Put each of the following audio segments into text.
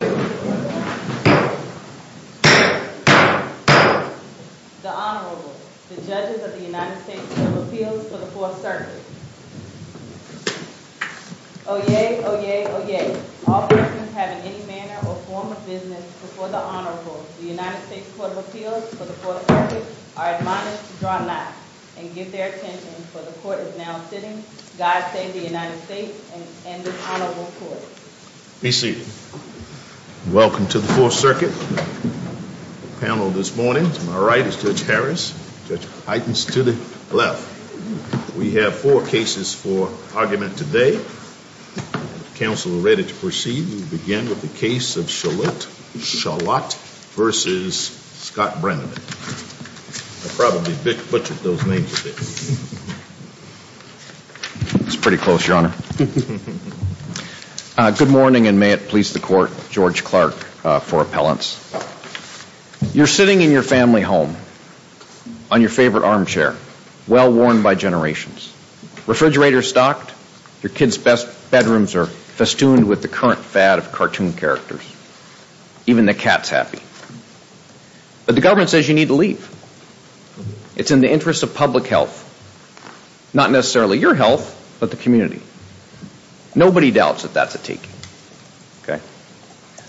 The Honorable, the Judges of the United States Court of Appeals for the Fourth Circuit. Oyez, oyez, oyez. All persons having any manner or form of business before the Honorable, the United States Court of Appeals for the Fourth Circuit, are admonished to draw not, and give their attention, for the Court is now sitting. God save the United States and this Honorable Court. Be seated. Welcome to the Fourth Circuit. The panel this morning, to my right is Judge Harris, Judge Heitens to the left. We have four cases for argument today. If counsel are ready to proceed, we'll begin with the case of Chollet v. Scott Brabrand. I probably butchered those names a bit. It's pretty close, Your Honor. Good morning, and may it please the Court, George Clark for appellants. You're sitting in your family home, on your favorite armchair, well worn by generations. Refrigerator stocked, your kids' bedrooms are festooned with the current fad of cartoon characters. Even the cat's happy. But the government says you need to leave. It's in the interest of public health. Not necessarily your health, but the community. Nobody doubts that that's a taking.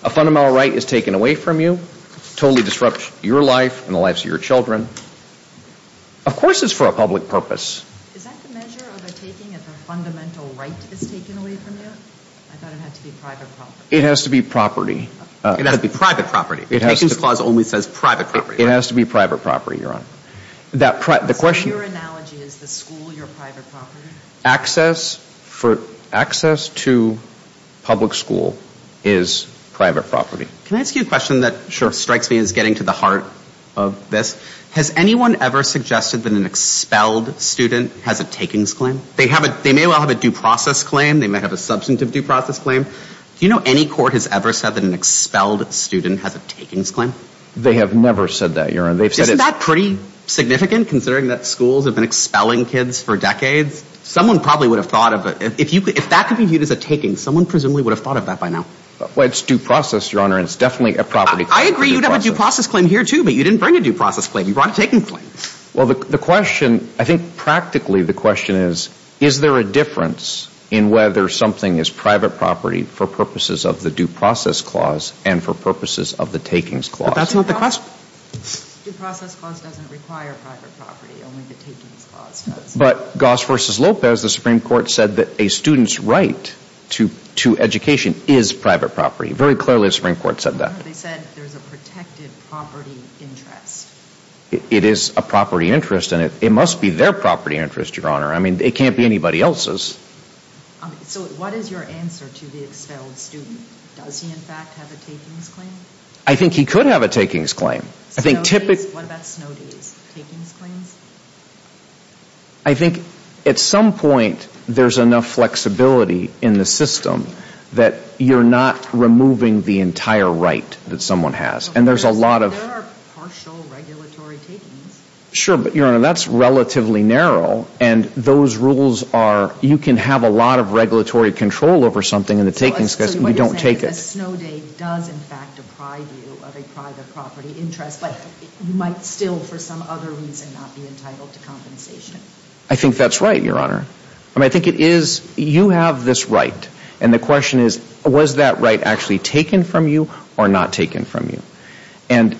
A fundamental right is taken away from you, totally disrupts your life and the lives of your children. Of course it's for a public purpose. Is that the measure of a taking if a fundamental right is taken away from you? I thought it had to be private property. It has to be property. It has to be private property. It has to be private property. So your analogy is the school your private property? Access to public school is private property. Can I ask you a question that strikes me as getting to the heart of this? Has anyone ever suggested that an expelled student has a takings claim? They may well have a due process claim. They may have a substantive due process claim. Do you know any court has ever said that an expelled student has a takings claim? They have never said that, Your Honor. Isn't that pretty significant considering that schools have been expelling kids for decades? Someone probably would have thought of it. If that could be viewed as a taking, someone presumably would have thought of that by now. Well, it's due process, Your Honor, and it's definitely a property claim. I agree you'd have a due process claim here too, but you didn't bring a due process claim. You brought a takings claim. Well, the question, I think practically the question is, is there a difference in whether something is private property for purposes of the due process clause and for purposes of the takings clause? That's not the question. The due process clause doesn't require private property. Only the takings clause does. But Goss v. Lopez, the Supreme Court said that a student's right to education is private property. Very clearly the Supreme Court said that. No, they said there's a protected property interest. It is a property interest, and it must be their property interest, Your Honor. I mean, it can't be anybody else's. So what is your answer to the expelled student? Does he, in fact, have a takings claim? I think he could have a takings claim. Snow days? What about snow days? Takings claims? I think at some point there's enough flexibility in the system that you're not removing the entire right that someone has, and there's a lot of... There are partial regulatory takings. Sure, but, Your Honor, that's relatively narrow, and those rules are, you can have a lot of regulatory control over something in the takings case, and you don't take it. The snow day does, in fact, deprive you of a private property interest, but you might still, for some other reason, not be entitled to compensation. I think that's right, Your Honor. I mean, I think it is, you have this right, and the question is, was that right actually taken from you or not taken from you? And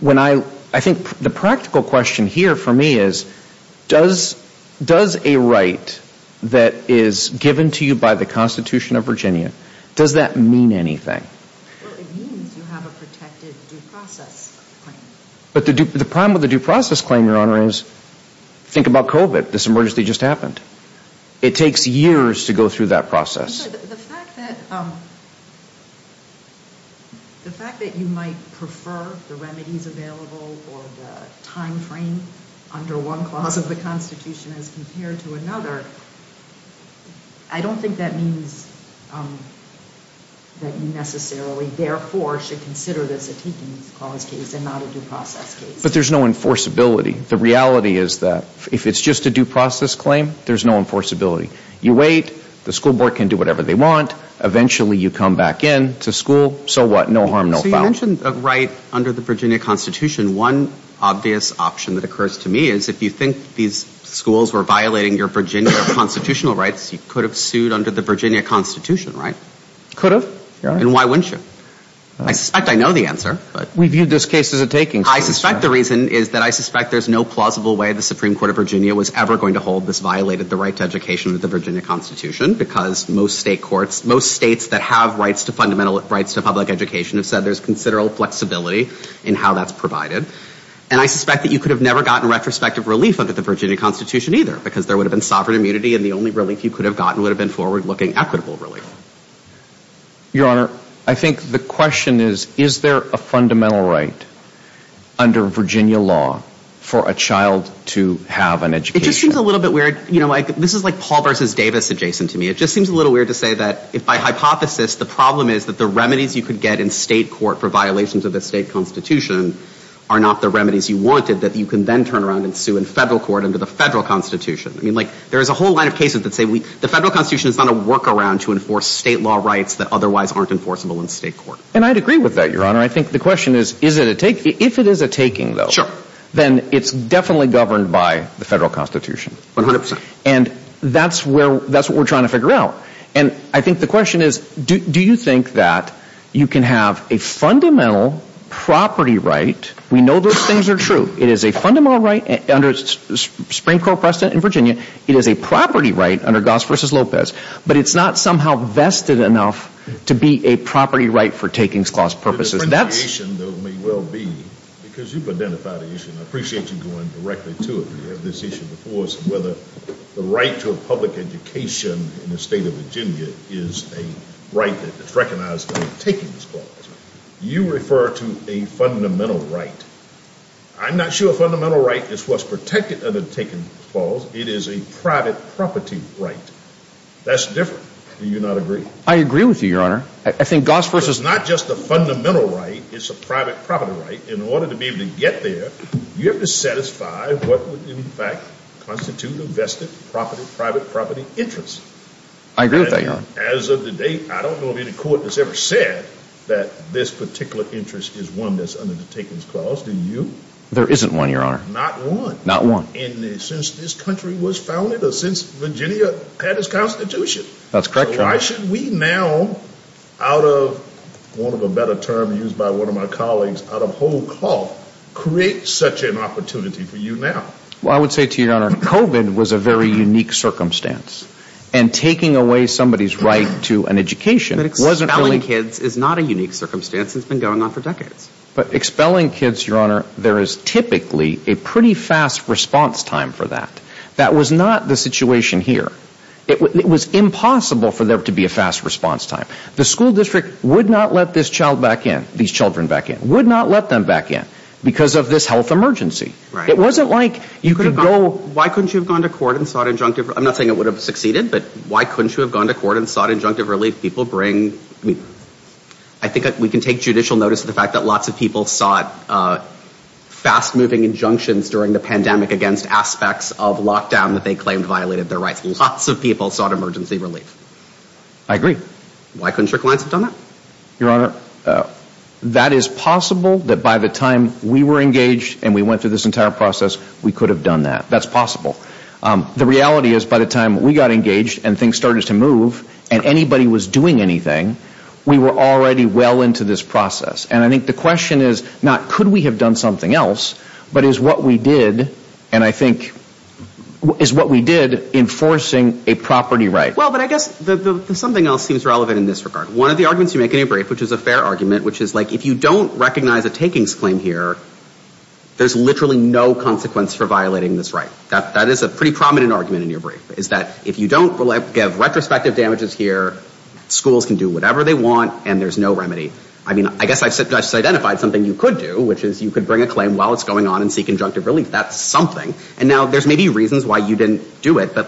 when I, I think the practical question here for me is, does a right that is given to you by the Constitution of Virginia, does that mean anything? Well, it means you have a protected due process claim. But the problem with the due process claim, Your Honor, is, think about COVID, this emergency just happened. It takes years to go through that process. I'm sorry, the fact that, the fact that you might prefer the remedies available or the time frame under one clause of the Constitution as compared to another, I don't think that means that you necessarily, therefore, should consider this a taking clause case and not a due process case. But there's no enforceability. The reality is that if it's just a due process claim, there's no enforceability. You wait, the school board can do whatever they want, eventually you come back in to school, so what? No harm, no foul. So you mentioned a right under the Virginia Constitution. One obvious option that occurs to me is, if you think these schools were violating your Virginia constitutional rights, you could have sued under the Virginia Constitution, right? Could have, Your Honor. And why wouldn't you? I suspect I know the answer. We viewed this case as a taking case. I suspect the reason is that I suspect there's no plausible way the Supreme Court of Virginia was ever going to hold this violated the right to education under the Virginia Constitution, because most state courts, most states that have rights to fundamental rights to public education have said there's considerable flexibility in how that's provided. And I suspect that you could have never gotten retrospective relief under the Virginia Constitution either, because there would have been sovereign immunity and the only relief you could have gotten would have been forward-looking, equitable relief. Your Honor, I think the question is, is there a fundamental right under Virginia law for a child to have an education? It just seems a little bit weird. You know, this is like Paul versus Davis adjacent to me. It just seems a little weird to say that, if by hypothesis, the problem is that the remedies you could get in state court for violations of the state constitution are not the remedies you wanted, that you can then turn around and sue in federal court under the federal constitution. I mean, like, there is a whole line of cases that say the federal constitution is not a workaround to enforce state law rights that otherwise aren't enforceable in state court. And I'd agree with that, Your Honor. I think the question is, is it a take? If it is a taking, though, then it's definitely governed by the federal constitution. One hundred percent. And that's what we're trying to figure out. And I think the question is, do you think that you can have a fundamental property right? We know those things are true. It is a fundamental right under Supreme Court precedent in Virginia. It is a property right under Goss versus Lopez. But it's not somehow vested enough to be a property right for takings clause purposes. The differentiation, though, may well be, because you've identified the issue, and I appreciate you going directly to it, but you have this issue before us, whether the right to a public education in the state of Virginia is a right that's recognized under takings clause. You refer to a fundamental right. I'm not sure a fundamental right is what's protected under takings clause. It is a private property right. That's different. Do you not agree? I agree with you, Your Honor. I think Goss versus is not just a fundamental right. It's a private property right. In order to be able to get there, you have to satisfy what would in fact constitute a vested private property interest. I agree with that, Your Honor. As of today, I don't know if any court has ever said that this particular interest is one that's under the takings clause. Do you? There isn't one, Your Honor. Not one? Not one. And since this country was founded, or since Virginia had its Constitution. That's correct, Your Honor. So why should we now, out of one of the better terms used by one of my colleagues, out of whole cloth, create such an opportunity for you now? Well, I would say to you, Your Honor, COVID was a very unique circumstance. And taking away somebody's right to an education wasn't really... But expelling kids is not a unique circumstance. It's been going on for decades. But expelling kids, Your Honor, there is typically a pretty fast response time for that. That was not the situation here. It was impossible for there to be a fast response time. The school district would not let this child back in, these children back in, would not let them back in because of this health emergency. It wasn't like you could go... Why couldn't you have gone to court and sought injunctive... I'm not saying it would have succeeded, but why couldn't you have gone to court and sought injunctive relief? People bring... I think we can take judicial notice of the fact that lots of people sought fast-moving injunctions during the pandemic against aspects of lockdown that they claimed violated their rights. Lots of people sought emergency relief. I agree. Why couldn't your clients have done that? Your Honor, that is possible that by the time we were engaged and we went through this entire process, we could have done that. That's possible. The reality is by the time we got engaged and things started to move and anybody was doing anything, we were already well into this process. And I think the question is not could we have done something else, but is what we did, and I think... Is what we did enforcing a property right? Well, but I guess something else seems relevant in this regard. One of the arguments you make in your brief, which is a fair argument, which is like if you don't recognize a takings claim here, there's literally no consequence for violating this right. That is a pretty prominent argument in your brief, is that if you don't give retrospective damages here, schools can do whatever they want and there's no remedy. I mean, I guess I've identified something you could do, which is you could bring a claim while it's going on and seek injunctive relief. That's something. And now there's maybe reasons why you didn't do it, but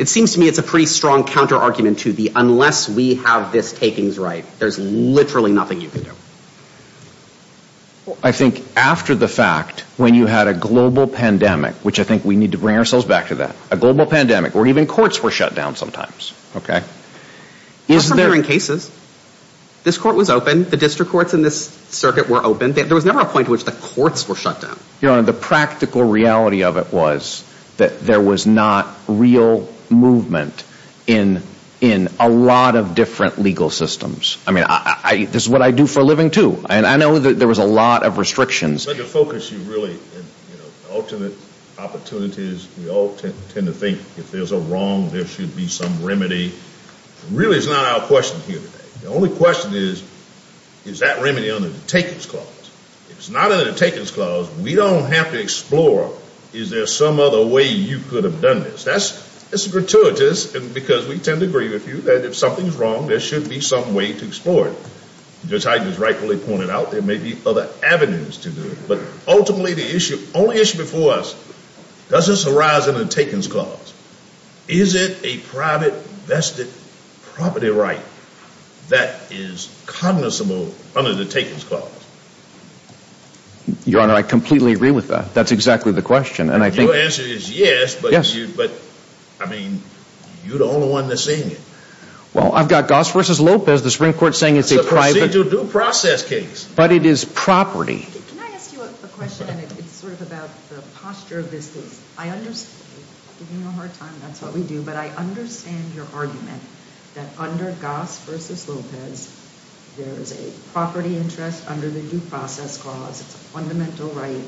it seems to me it's a pretty strong counter-argument to the unless we have this takings right, there's literally nothing you can do. I think after the fact, when you had a global pandemic, which I think we need to bring ourselves back to that, a global pandemic, where even courts were shut down sometimes. Not from hearing cases. This court was open. The district courts in this circuit were open. There was never a point at which the courts were shut down. Your Honor, the practical reality of it was that there was not real movement in a lot of different legal systems. I mean, this is what I do for a living, too. And I know that there was a lot of restrictions. Let me focus you, really, on alternate opportunities. We all tend to think if there's a wrong, there should be some remedy. Really, it's not our question here today. The only question is, is that remedy under the takings clause? If it's not under the takings clause, we don't have to explore, is there some other way you could have done this? That's gratuitous because we tend to agree with you that if something's wrong, there should be some way to explore it. Judge Heiden has rightfully pointed out there may be other avenues to do it. But ultimately, the only issue before us, does this arise under the takings clause? Is it a private vested property right that is cognizable under the takings clause? Your Honor, I completely agree with that. That's exactly the question. Your answer is yes, but, I mean, you're the only one that's saying it. Well, I've got Goss v. Lopez, the Supreme Court, saying it's a private But it is property. Can I ask you a question? It's sort of about the posture of this case. I understand you're having a hard time. That's what we do. But I understand your argument that under Goss v. Lopez, there is a property interest under the due process clause. It's a fundamental right,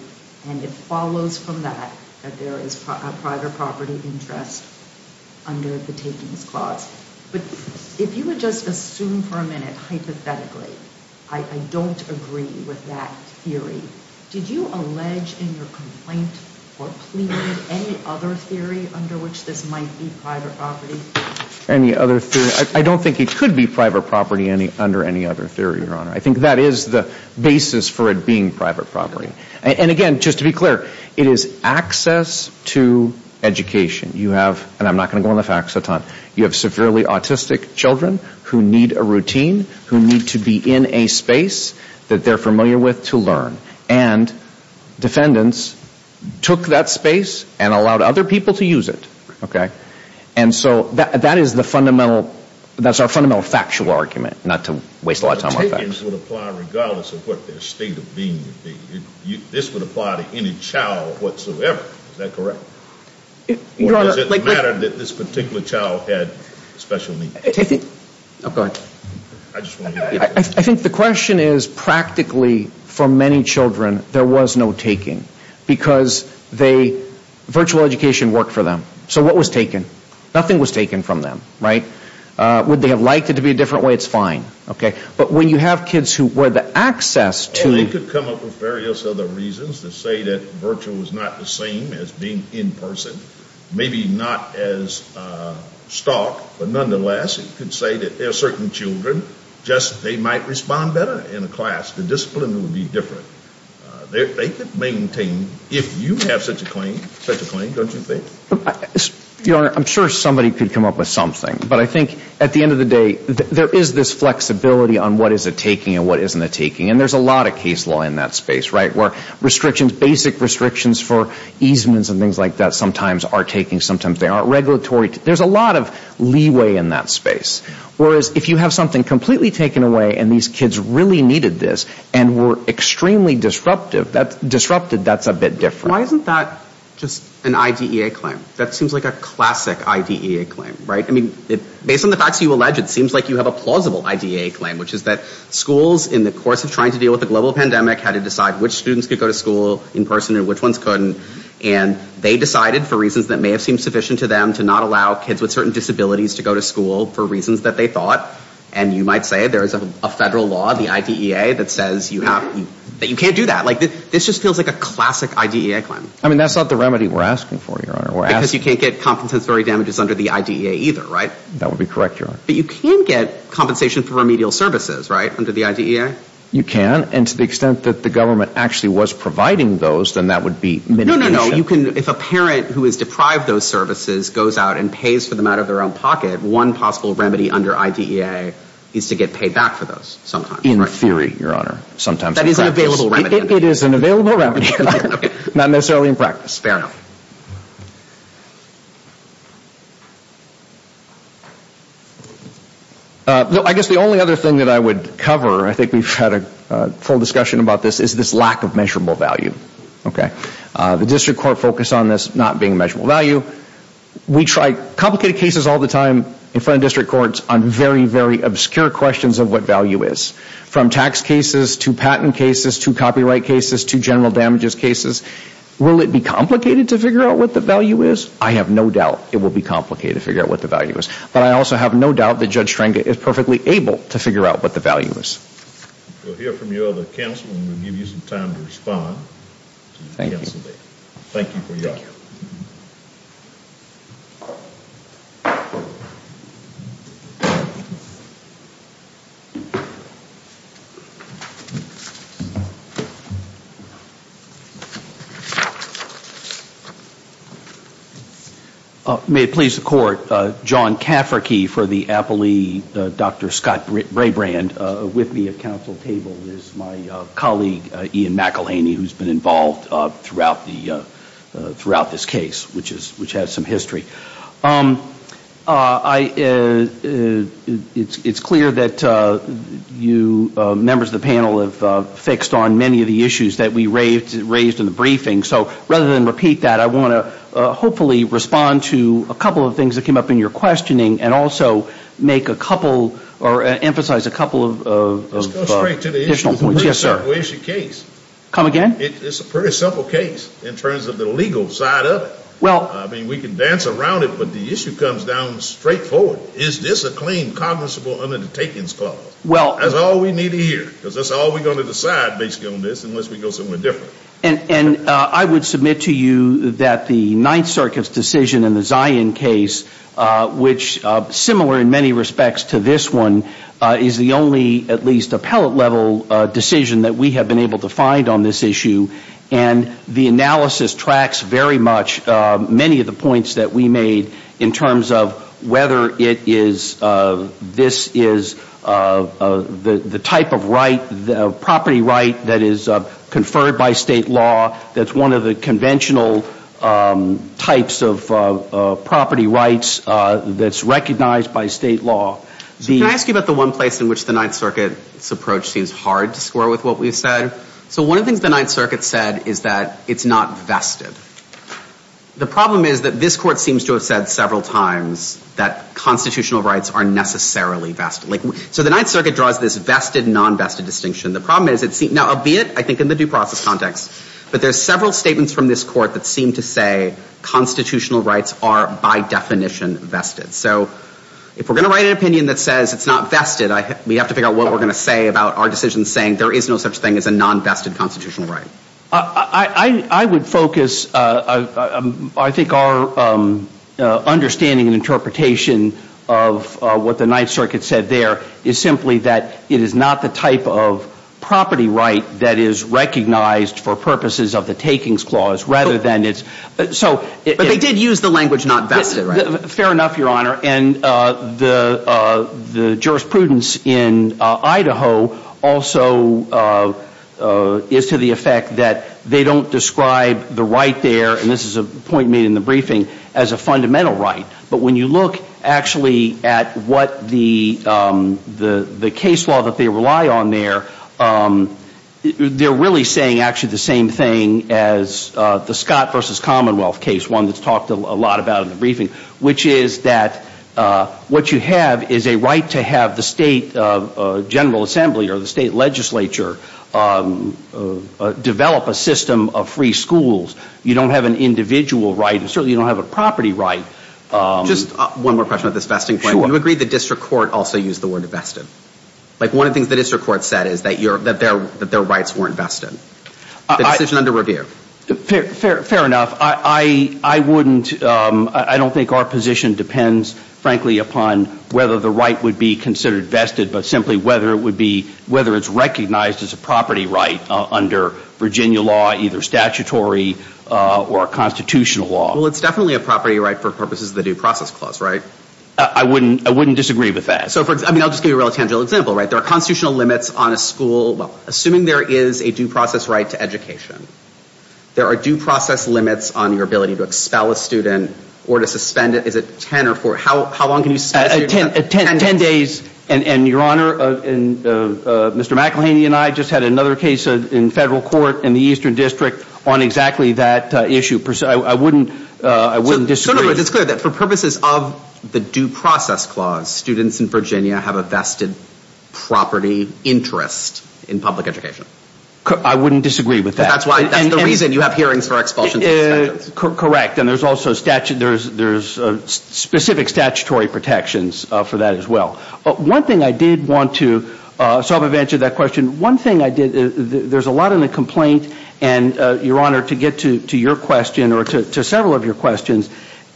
and it follows from that that there is a private property interest under the takings clause. But if you would just assume for a minute, hypothetically, I don't agree with that theory. Did you allege in your complaint or plea any other theory under which this might be private property? Any other theory? I don't think it could be private property under any other theory, Your Honor. I think that is the basis for it being private property. And, again, just to be clear, it is access to education. You have, and I'm not going to go into facts a ton, you have severely autistic children who need a routine, who need to be in a space that they're familiar with to learn. And defendants took that space and allowed other people to use it. Okay? And so that is the fundamental, that's our fundamental factual argument, not to waste a lot of time on facts. The takings would apply regardless of what their state of being would be. This would apply to any child whatsoever. Is that correct? Or does it matter that this particular child had special needs? Oh, go ahead. I think the question is practically for many children there was no taking because virtual education worked for them. So what was taken? Nothing was taken from them. Right? Would they have liked it to be a different way? It's fine. But when you have kids who were the access to Well, it could come up with various other reasons to say that virtual was not the same as being in person. Maybe not as stark, but nonetheless, it could say that there are certain children, just they might respond better in a class. The discipline would be different. They could maintain, if you have such a claim, such a claim, don't you think? Your Honor, I'm sure somebody could come up with something. But I think at the end of the day, there is this flexibility on what is a taking and what isn't a taking. And there's a lot of case law in that space, right, where restrictions, basic restrictions for easements and things like that sometimes are taking, sometimes they aren't regulatory. There's a lot of leeway in that space. Whereas if you have something completely taken away and these kids really needed this and were extremely disruptive, that's a bit different. Why isn't that just an IDEA claim? That seems like a classic IDEA claim, right? I mean, based on the facts you allege, it seems like you have a plausible IDEA claim, which is that schools, in the course of trying to deal with the global pandemic, had to decide which students could go to school in person and which ones couldn't. And they decided, for reasons that may have seemed sufficient to them, to not allow kids with certain disabilities to go to school for reasons that they thought. And you might say there is a federal law, the IDEA, that says you can't do that. This just feels like a classic IDEA claim. I mean, that's not the remedy we're asking for, Your Honor. Because you can't get compensatory damages under the IDEA either, right? That would be correct, Your Honor. But you can get compensation for remedial services, right, under the IDEA? You can. And to the extent that the government actually was providing those, then that would be mitigation. No, no, no. If a parent who is deprived of those services goes out and pays for them out of their own pocket, one possible remedy under IDEA is to get paid back for those sometimes. In theory, Your Honor. Sometimes in practice. That is an available remedy. It is an available remedy. Not necessarily in practice. Fair enough. I guess the only other thing that I would cover, and I think we've had a full discussion about this, is this lack of measurable value. Okay? The district court focused on this not being measurable value. We try complicated cases all the time in front of district courts on very, very obscure questions of what value is. From tax cases to patent cases to copyright cases to general damages cases. Will it be complicated to figure out what the value is? I have no doubt it will be complicated to figure out what the value is. But I also have no doubt that Judge Schrodinger is perfectly able to figure out what the value is. We'll hear from your other counsel and we'll give you some time to respond. Thank you. Thank you for your honor. May it please the court, John Cafferkey for the appellee, Dr. Scott Brabrand. With me at counsel table is my colleague, Ian McElhaney, who's been involved throughout this case, which has some history. It's clear that members of the panel have fixed on many of the issues that we raised in the briefing. So rather than repeat that, I want to hopefully respond to a couple of things that came up in your questioning and also make a couple or emphasize a couple of additional points. Where is your case? Come again? It's a pretty simple case in terms of the legal side of it. I mean, we can dance around it, but the issue comes down straightforward. Is this a claim cognizable under the takings clause? That's all we need to hear because that's all we're going to decide based on this unless we go somewhere different. And I would submit to you that the Ninth Circuit's decision in the Zion case, which similar in many respects to this one, is the only at least appellate level decision that we have been able to find on this issue. And the analysis tracks very much many of the points that we made in terms of whether it is this is the type of right, the property right that is conferred by state law that's one of the conventional types of property rights that's recognized by state law. Can I ask you about the one place in which the Ninth Circuit's approach seems hard to score with what we've said? So one of the things the Ninth Circuit said is that it's not vested. The problem is that this court seems to have said several times that constitutional rights are necessarily vested. So the Ninth Circuit draws this vested, non-vested distinction. The problem is, albeit I think in the due process context, but there's several statements from this court that seem to say constitutional rights are by definition vested. So if we're going to write an opinion that says it's not vested, we have to figure out what we're going to say about our decision saying there is no such thing as a non-vested constitutional right. I would focus, I think, our understanding and interpretation of what the Ninth Circuit said there is simply that it is not the type of property right that is recognized for purposes of the takings clause, rather than it's. But they did use the language not vested, right? Fair enough, Your Honor. And the jurisprudence in Idaho also is to the effect that they don't describe the right there, and this is a point made in the briefing, as a fundamental right. But when you look actually at what the case law that they rely on there, they're really saying actually the same thing as the Scott versus Commonwealth case, one that's talked a lot about in the briefing, which is that what you have is a right to have the state general assembly or the state legislature develop a system of free schools. You don't have an individual right, and certainly you don't have a property right. Just one more question about this vesting point. Sure. You agree the district court also used the word vested? Like one of the things the district court said is that their rights weren't vested. The decision under review. Fair enough. I wouldn't, I don't think our position depends, frankly, upon whether the right would be considered vested, but simply whether it's recognized as a property right under Virginia law, either statutory or constitutional law. Well, it's definitely a property right for purposes of the due process clause, right? I wouldn't disagree with that. I'll just give you a real tangible example. There are constitutional limits on a school. Assuming there is a due process right to education, there are due process limits on your ability to expel a student or to suspend it. Is it ten or four? How long can you suspend? Ten days. And, Your Honor, Mr. McElhaney and I just had another case in federal court in the Eastern District on exactly that issue. I wouldn't disagree. It's clear that for purposes of the due process clause, students in Virginia have a vested property interest in public education. I wouldn't disagree with that. That's the reason you have hearings for expulsions and suspensions. Correct. And there's also specific statutory protections for that as well. One thing I did want to, so I've answered that question. One thing I did, there's a lot in the complaint, and, Your Honor, to get to your question or to several of your questions,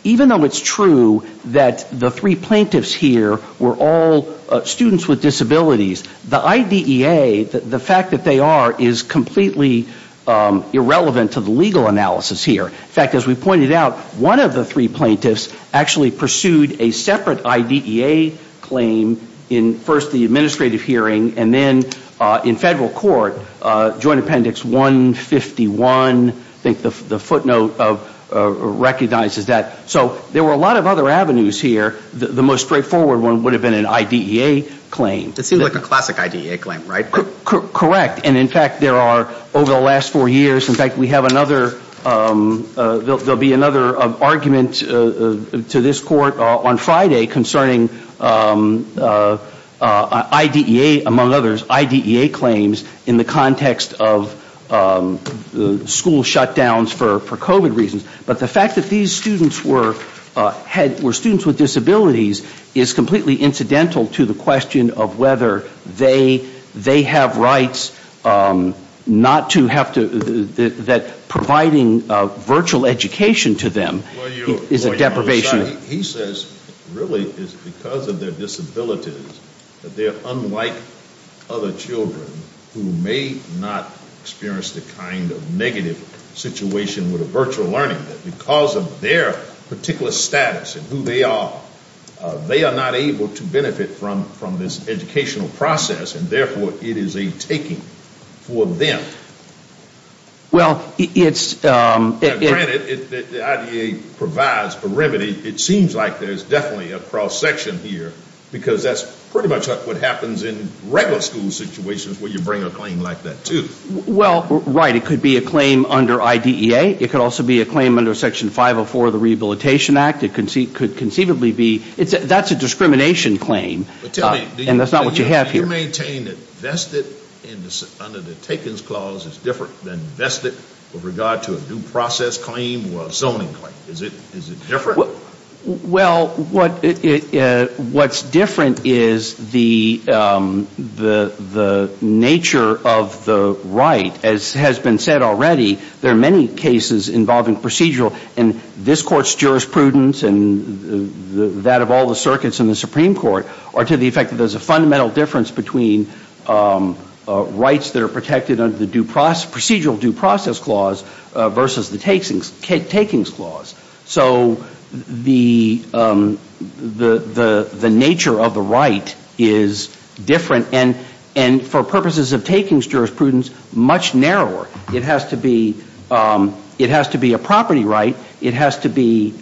even though it's true that the three plaintiffs here were all students with disabilities, the IDEA, the fact that they are, is completely irrelevant to the legal analysis here. In fact, as we pointed out, one of the three plaintiffs actually pursued a separate IDEA claim in first the administrative hearing and then in federal court, Joint Appendix 151, I think the footnote recognizes that. So there were a lot of other avenues here. The most straightforward one would have been an IDEA claim. It seems like a classic IDEA claim, right? Correct. And, in fact, there are, over the last four years, in fact, we have another, there'll be another argument to this court on Friday concerning IDEA, among others, IDEA claims in the context of school shutdowns for COVID reasons. But the fact that these students were students with disabilities is completely incidental to the question of whether they have rights, not to have to, that providing virtual education to them is a deprivation. He says really it's because of their disabilities that they're unlike other children who may not experience the kind of negative situation with a virtual learning, that because of their particular status and who they are, they are not able to benefit from this educational process and, therefore, it is a taking for them. Well, it's... Granted, the IDEA provides a remedy. It seems like there's definitely a cross-section here because that's pretty much what happens in regular school situations where you bring a claim like that, too. Well, right. It could be a claim under IDEA. It could also be a claim under Section 504 of the Rehabilitation Act. It could conceivably be, that's a discrimination claim, and that's not what you have here. You maintain that vested under the Taken's Clause is different than vested with regard to a due process claim or a zoning claim. Is it different? Well, what's different is the nature of the right. As has been said already, there are many cases involving procedural, and this Court's jurisprudence and that of all the circuits in the Supreme Court are to the effect that there's a fundamental difference between rights that are protected under the procedural due process clause versus the Taken's Clause. So the nature of the right is different, and for purposes of Taken's jurisprudence, much narrower. It has to be a property right. It has to be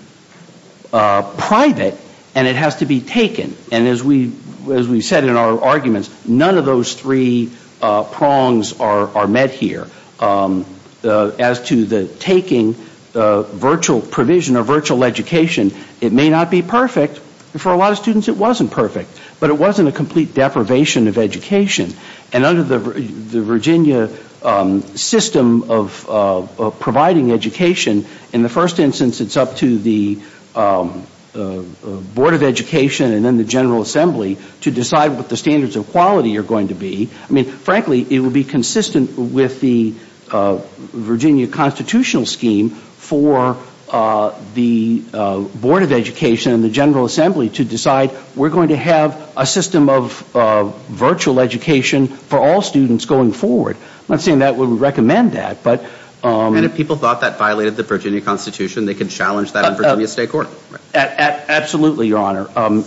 private. And it has to be taken. And as we've said in our arguments, none of those three prongs are met here. As to the taking virtual provision or virtual education, it may not be perfect. For a lot of students, it wasn't perfect. But it wasn't a complete deprivation of education. And under the Virginia system of providing education, in the first instance, it's up to the Board of Education and then the General Assembly to decide what the standards of quality are going to be. I'm not saying that we would recommend that. And if people thought that violated the Virginia Constitution, they could challenge that in Virginia State Court. Absolutely, Your Honor.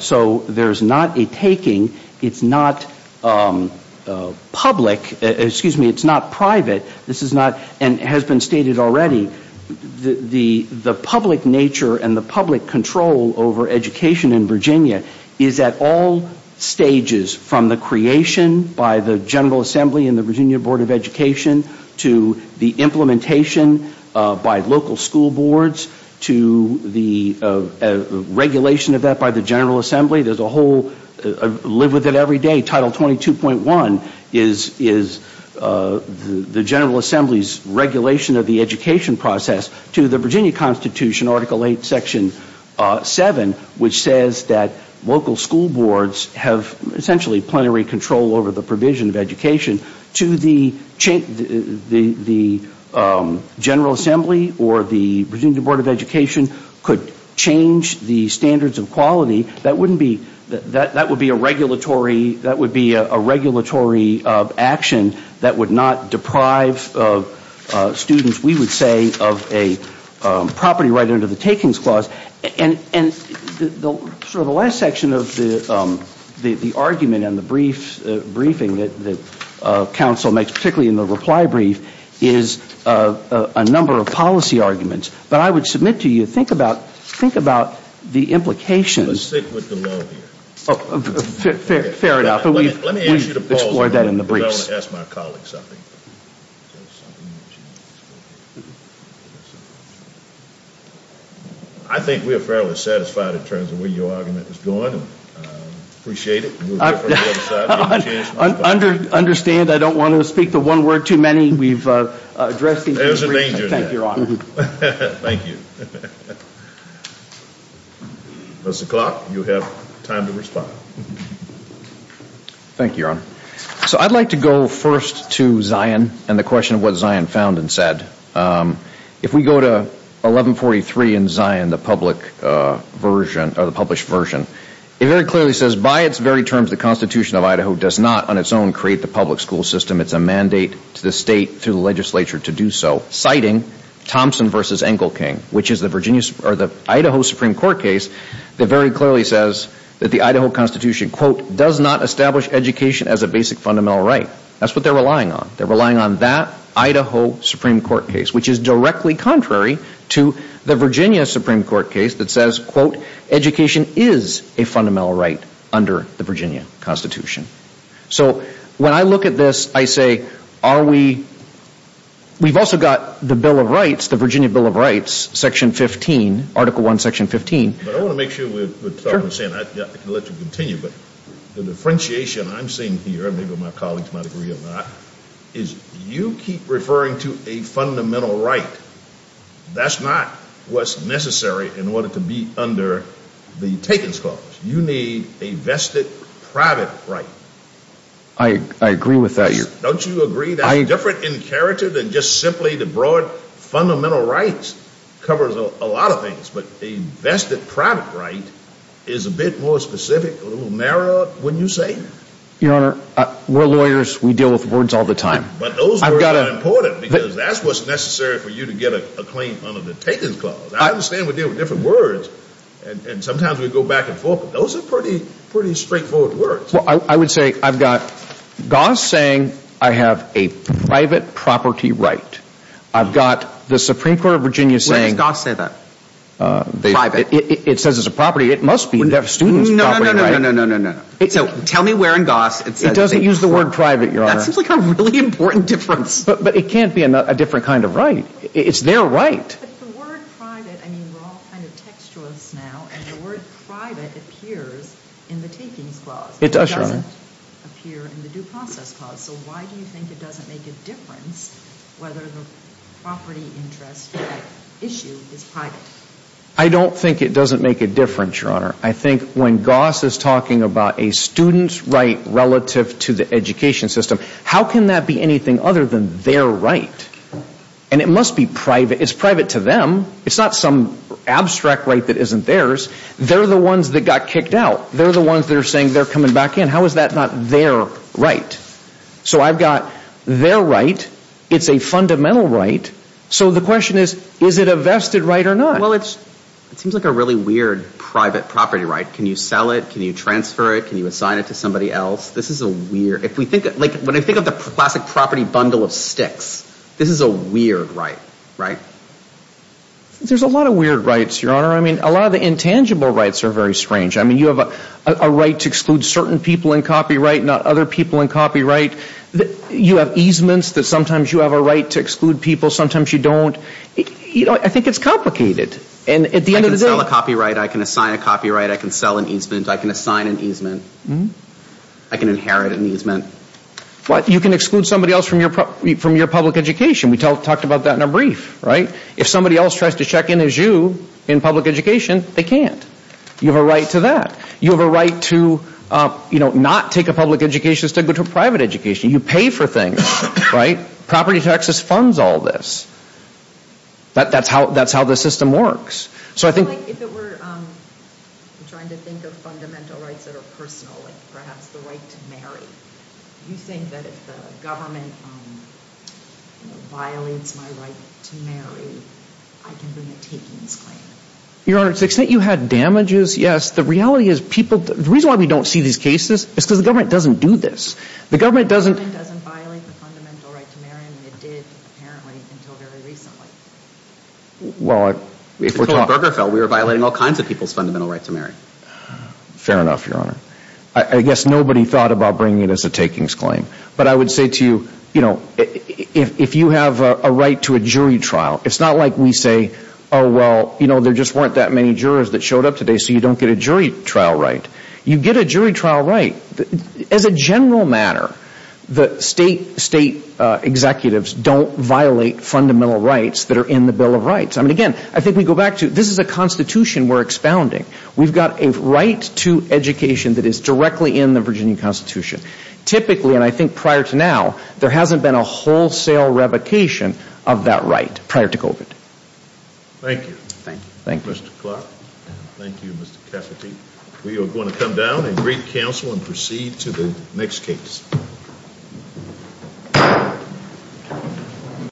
So there's not a taking. It's not public. Excuse me, it's not private. And it has been stated already, the public nature and the public control over education in Virginia is at all stages, from the creation by the General Assembly and the Virginia Board of Education, to the implementation by local school boards, to the regulation of that by the General Assembly. I live with it every day. Title 22.1 is the General Assembly's regulation of the education process, to the Virginia Constitution, Article 8, Section 7, which says that local school boards have essentially plenary control over the provision of education, to the General Assembly or the Virginia Board of Education could change the standards of quality. That would be a regulatory action that would not deprive students, we would say, of a property right under the Takings Clause. And the last section of the argument and the briefing that counsel makes, particularly in the reply brief, is a number of policy arguments. But I would submit to you, think about the implications. Let's stick with the law here. Fair enough. Let me ask you to pause a moment. We've explored that in the briefs. I want to ask my colleagues something. I think we are fairly satisfied in terms of where your argument is going. I appreciate it. Understand, I don't want to speak the one word too many. We've addressed it. There's a danger in that. Thank you, Your Honor. Thank you. Mr. Clark, you have time to respond. Thank you, Your Honor. So I'd like to go first to Zion and the question of what Zion found and said. If we go to 1143 in Zion, the published version, it very clearly says, By its very terms, the Constitution of Idaho does not on its own create the public school system. It's a mandate to the state through the legislature to do so, citing Thompson v. Engelking, which is the Idaho Supreme Court case that very clearly says that the Idaho Constitution, Quote, does not establish education as a basic fundamental right. That's what they're relying on. They're relying on that Idaho Supreme Court case, which is directly contrary to the Virginia Supreme Court case that says, Quote, education is a fundamental right under the Virginia Constitution. So when I look at this, I say, are we, we've also got the Bill of Rights, the Virginia Bill of Rights, Section 15, Article 1, Section 15. But I want to make sure we're talking and saying, I can let you continue, but the differentiation I'm seeing here, and maybe my colleagues might agree or not, is you keep referring to a fundamental right. That's not what's necessary in order to be under the Takens Clause. You need a vested private right. I agree with that. Don't you agree that's different in character than just simply the broad fundamental rights covers a lot of things, but a vested private right is a bit more specific, a little narrower, wouldn't you say? Your Honor, we're lawyers. We deal with words all the time. But those words are important because that's what's necessary for you to get a claim under the Takens Clause. I understand we deal with different words, and sometimes we go back and forth, but those are pretty, pretty straightforward words. Well, I would say I've got Goss saying I have a private property right. I've got the Supreme Court of Virginia saying. Where does Goss say that? Private. It says it's a property. It must be a student's property right. No, no, no, no, no, no, no, no, no. So tell me where in Goss it says. It doesn't use the word private, Your Honor. That seems like a really important difference. But it can't be a different kind of right. It's their right. But the word private, I mean, we're all kind of textualists now, and the word private appears in the Takens Clause. It does, Your Honor. It doesn't appear in the Due Process Clause. So why do you think it doesn't make a difference whether the property interest issue is private? I don't think it doesn't make a difference, Your Honor. I think when Goss is talking about a student's right relative to the education system, how can that be anything other than their right? And it must be private. It's private to them. It's not some abstract right that isn't theirs. They're the ones that got kicked out. They're the ones that are saying they're coming back in. How is that not their right? So I've got their right. It's a fundamental right. So the question is, is it a vested right or not? Well, it seems like a really weird private property right. Can you sell it? Can you transfer it? Can you assign it to somebody else? This is a weird— When I think of the classic property bundle of sticks, this is a weird right, right? There's a lot of weird rights, Your Honor. I mean, a lot of the intangible rights are very strange. I mean, you have a right to exclude certain people in copyright, not other people in copyright. You have easements that sometimes you have a right to exclude people, sometimes you don't. I think it's complicated. And at the end of the day— I can sell a copyright. I can assign a copyright. I can sell an easement. I can assign an easement. I can inherit an easement. But you can exclude somebody else from your public education. We talked about that in a brief, right? If somebody else tries to check in as you in public education, they can't. You have a right to that. You have a right to not take a public education instead of go to a private education. You pay for things, right? Property taxes funds all this. That's how the system works. So I think— Your Honor, to the extent you had damages, yes. The reality is people—the reason why we don't see these cases is because the government doesn't do this. The government doesn't— The government doesn't violate the fundamental right to marry, and it did, apparently, until very recently. Well, if we're talking— Until Berger fell, we were violating all kinds of people's fundamental right to marry. Fair enough, Your Honor. I guess nobody thought about bringing it as a takings claim. But I would say to you, you know, if you have a right to a jury trial, it's not like we say, oh, well, you know, there just weren't that many jurors that showed up today, so you don't get a jury trial right. You get a jury trial right. As a general matter, the state executives don't violate fundamental rights that are in the Bill of Rights. I mean, again, I think we go back to—this is a Constitution we're expounding. We've got a right to education that is directly in the Virginia Constitution. Typically, and I think prior to now, there hasn't been a wholesale revocation of that right prior to COVID. Thank you. Thank you. Mr. Clark. Thank you, Mr. Cafferty. We are going to come down and greet counsel and proceed to the next case.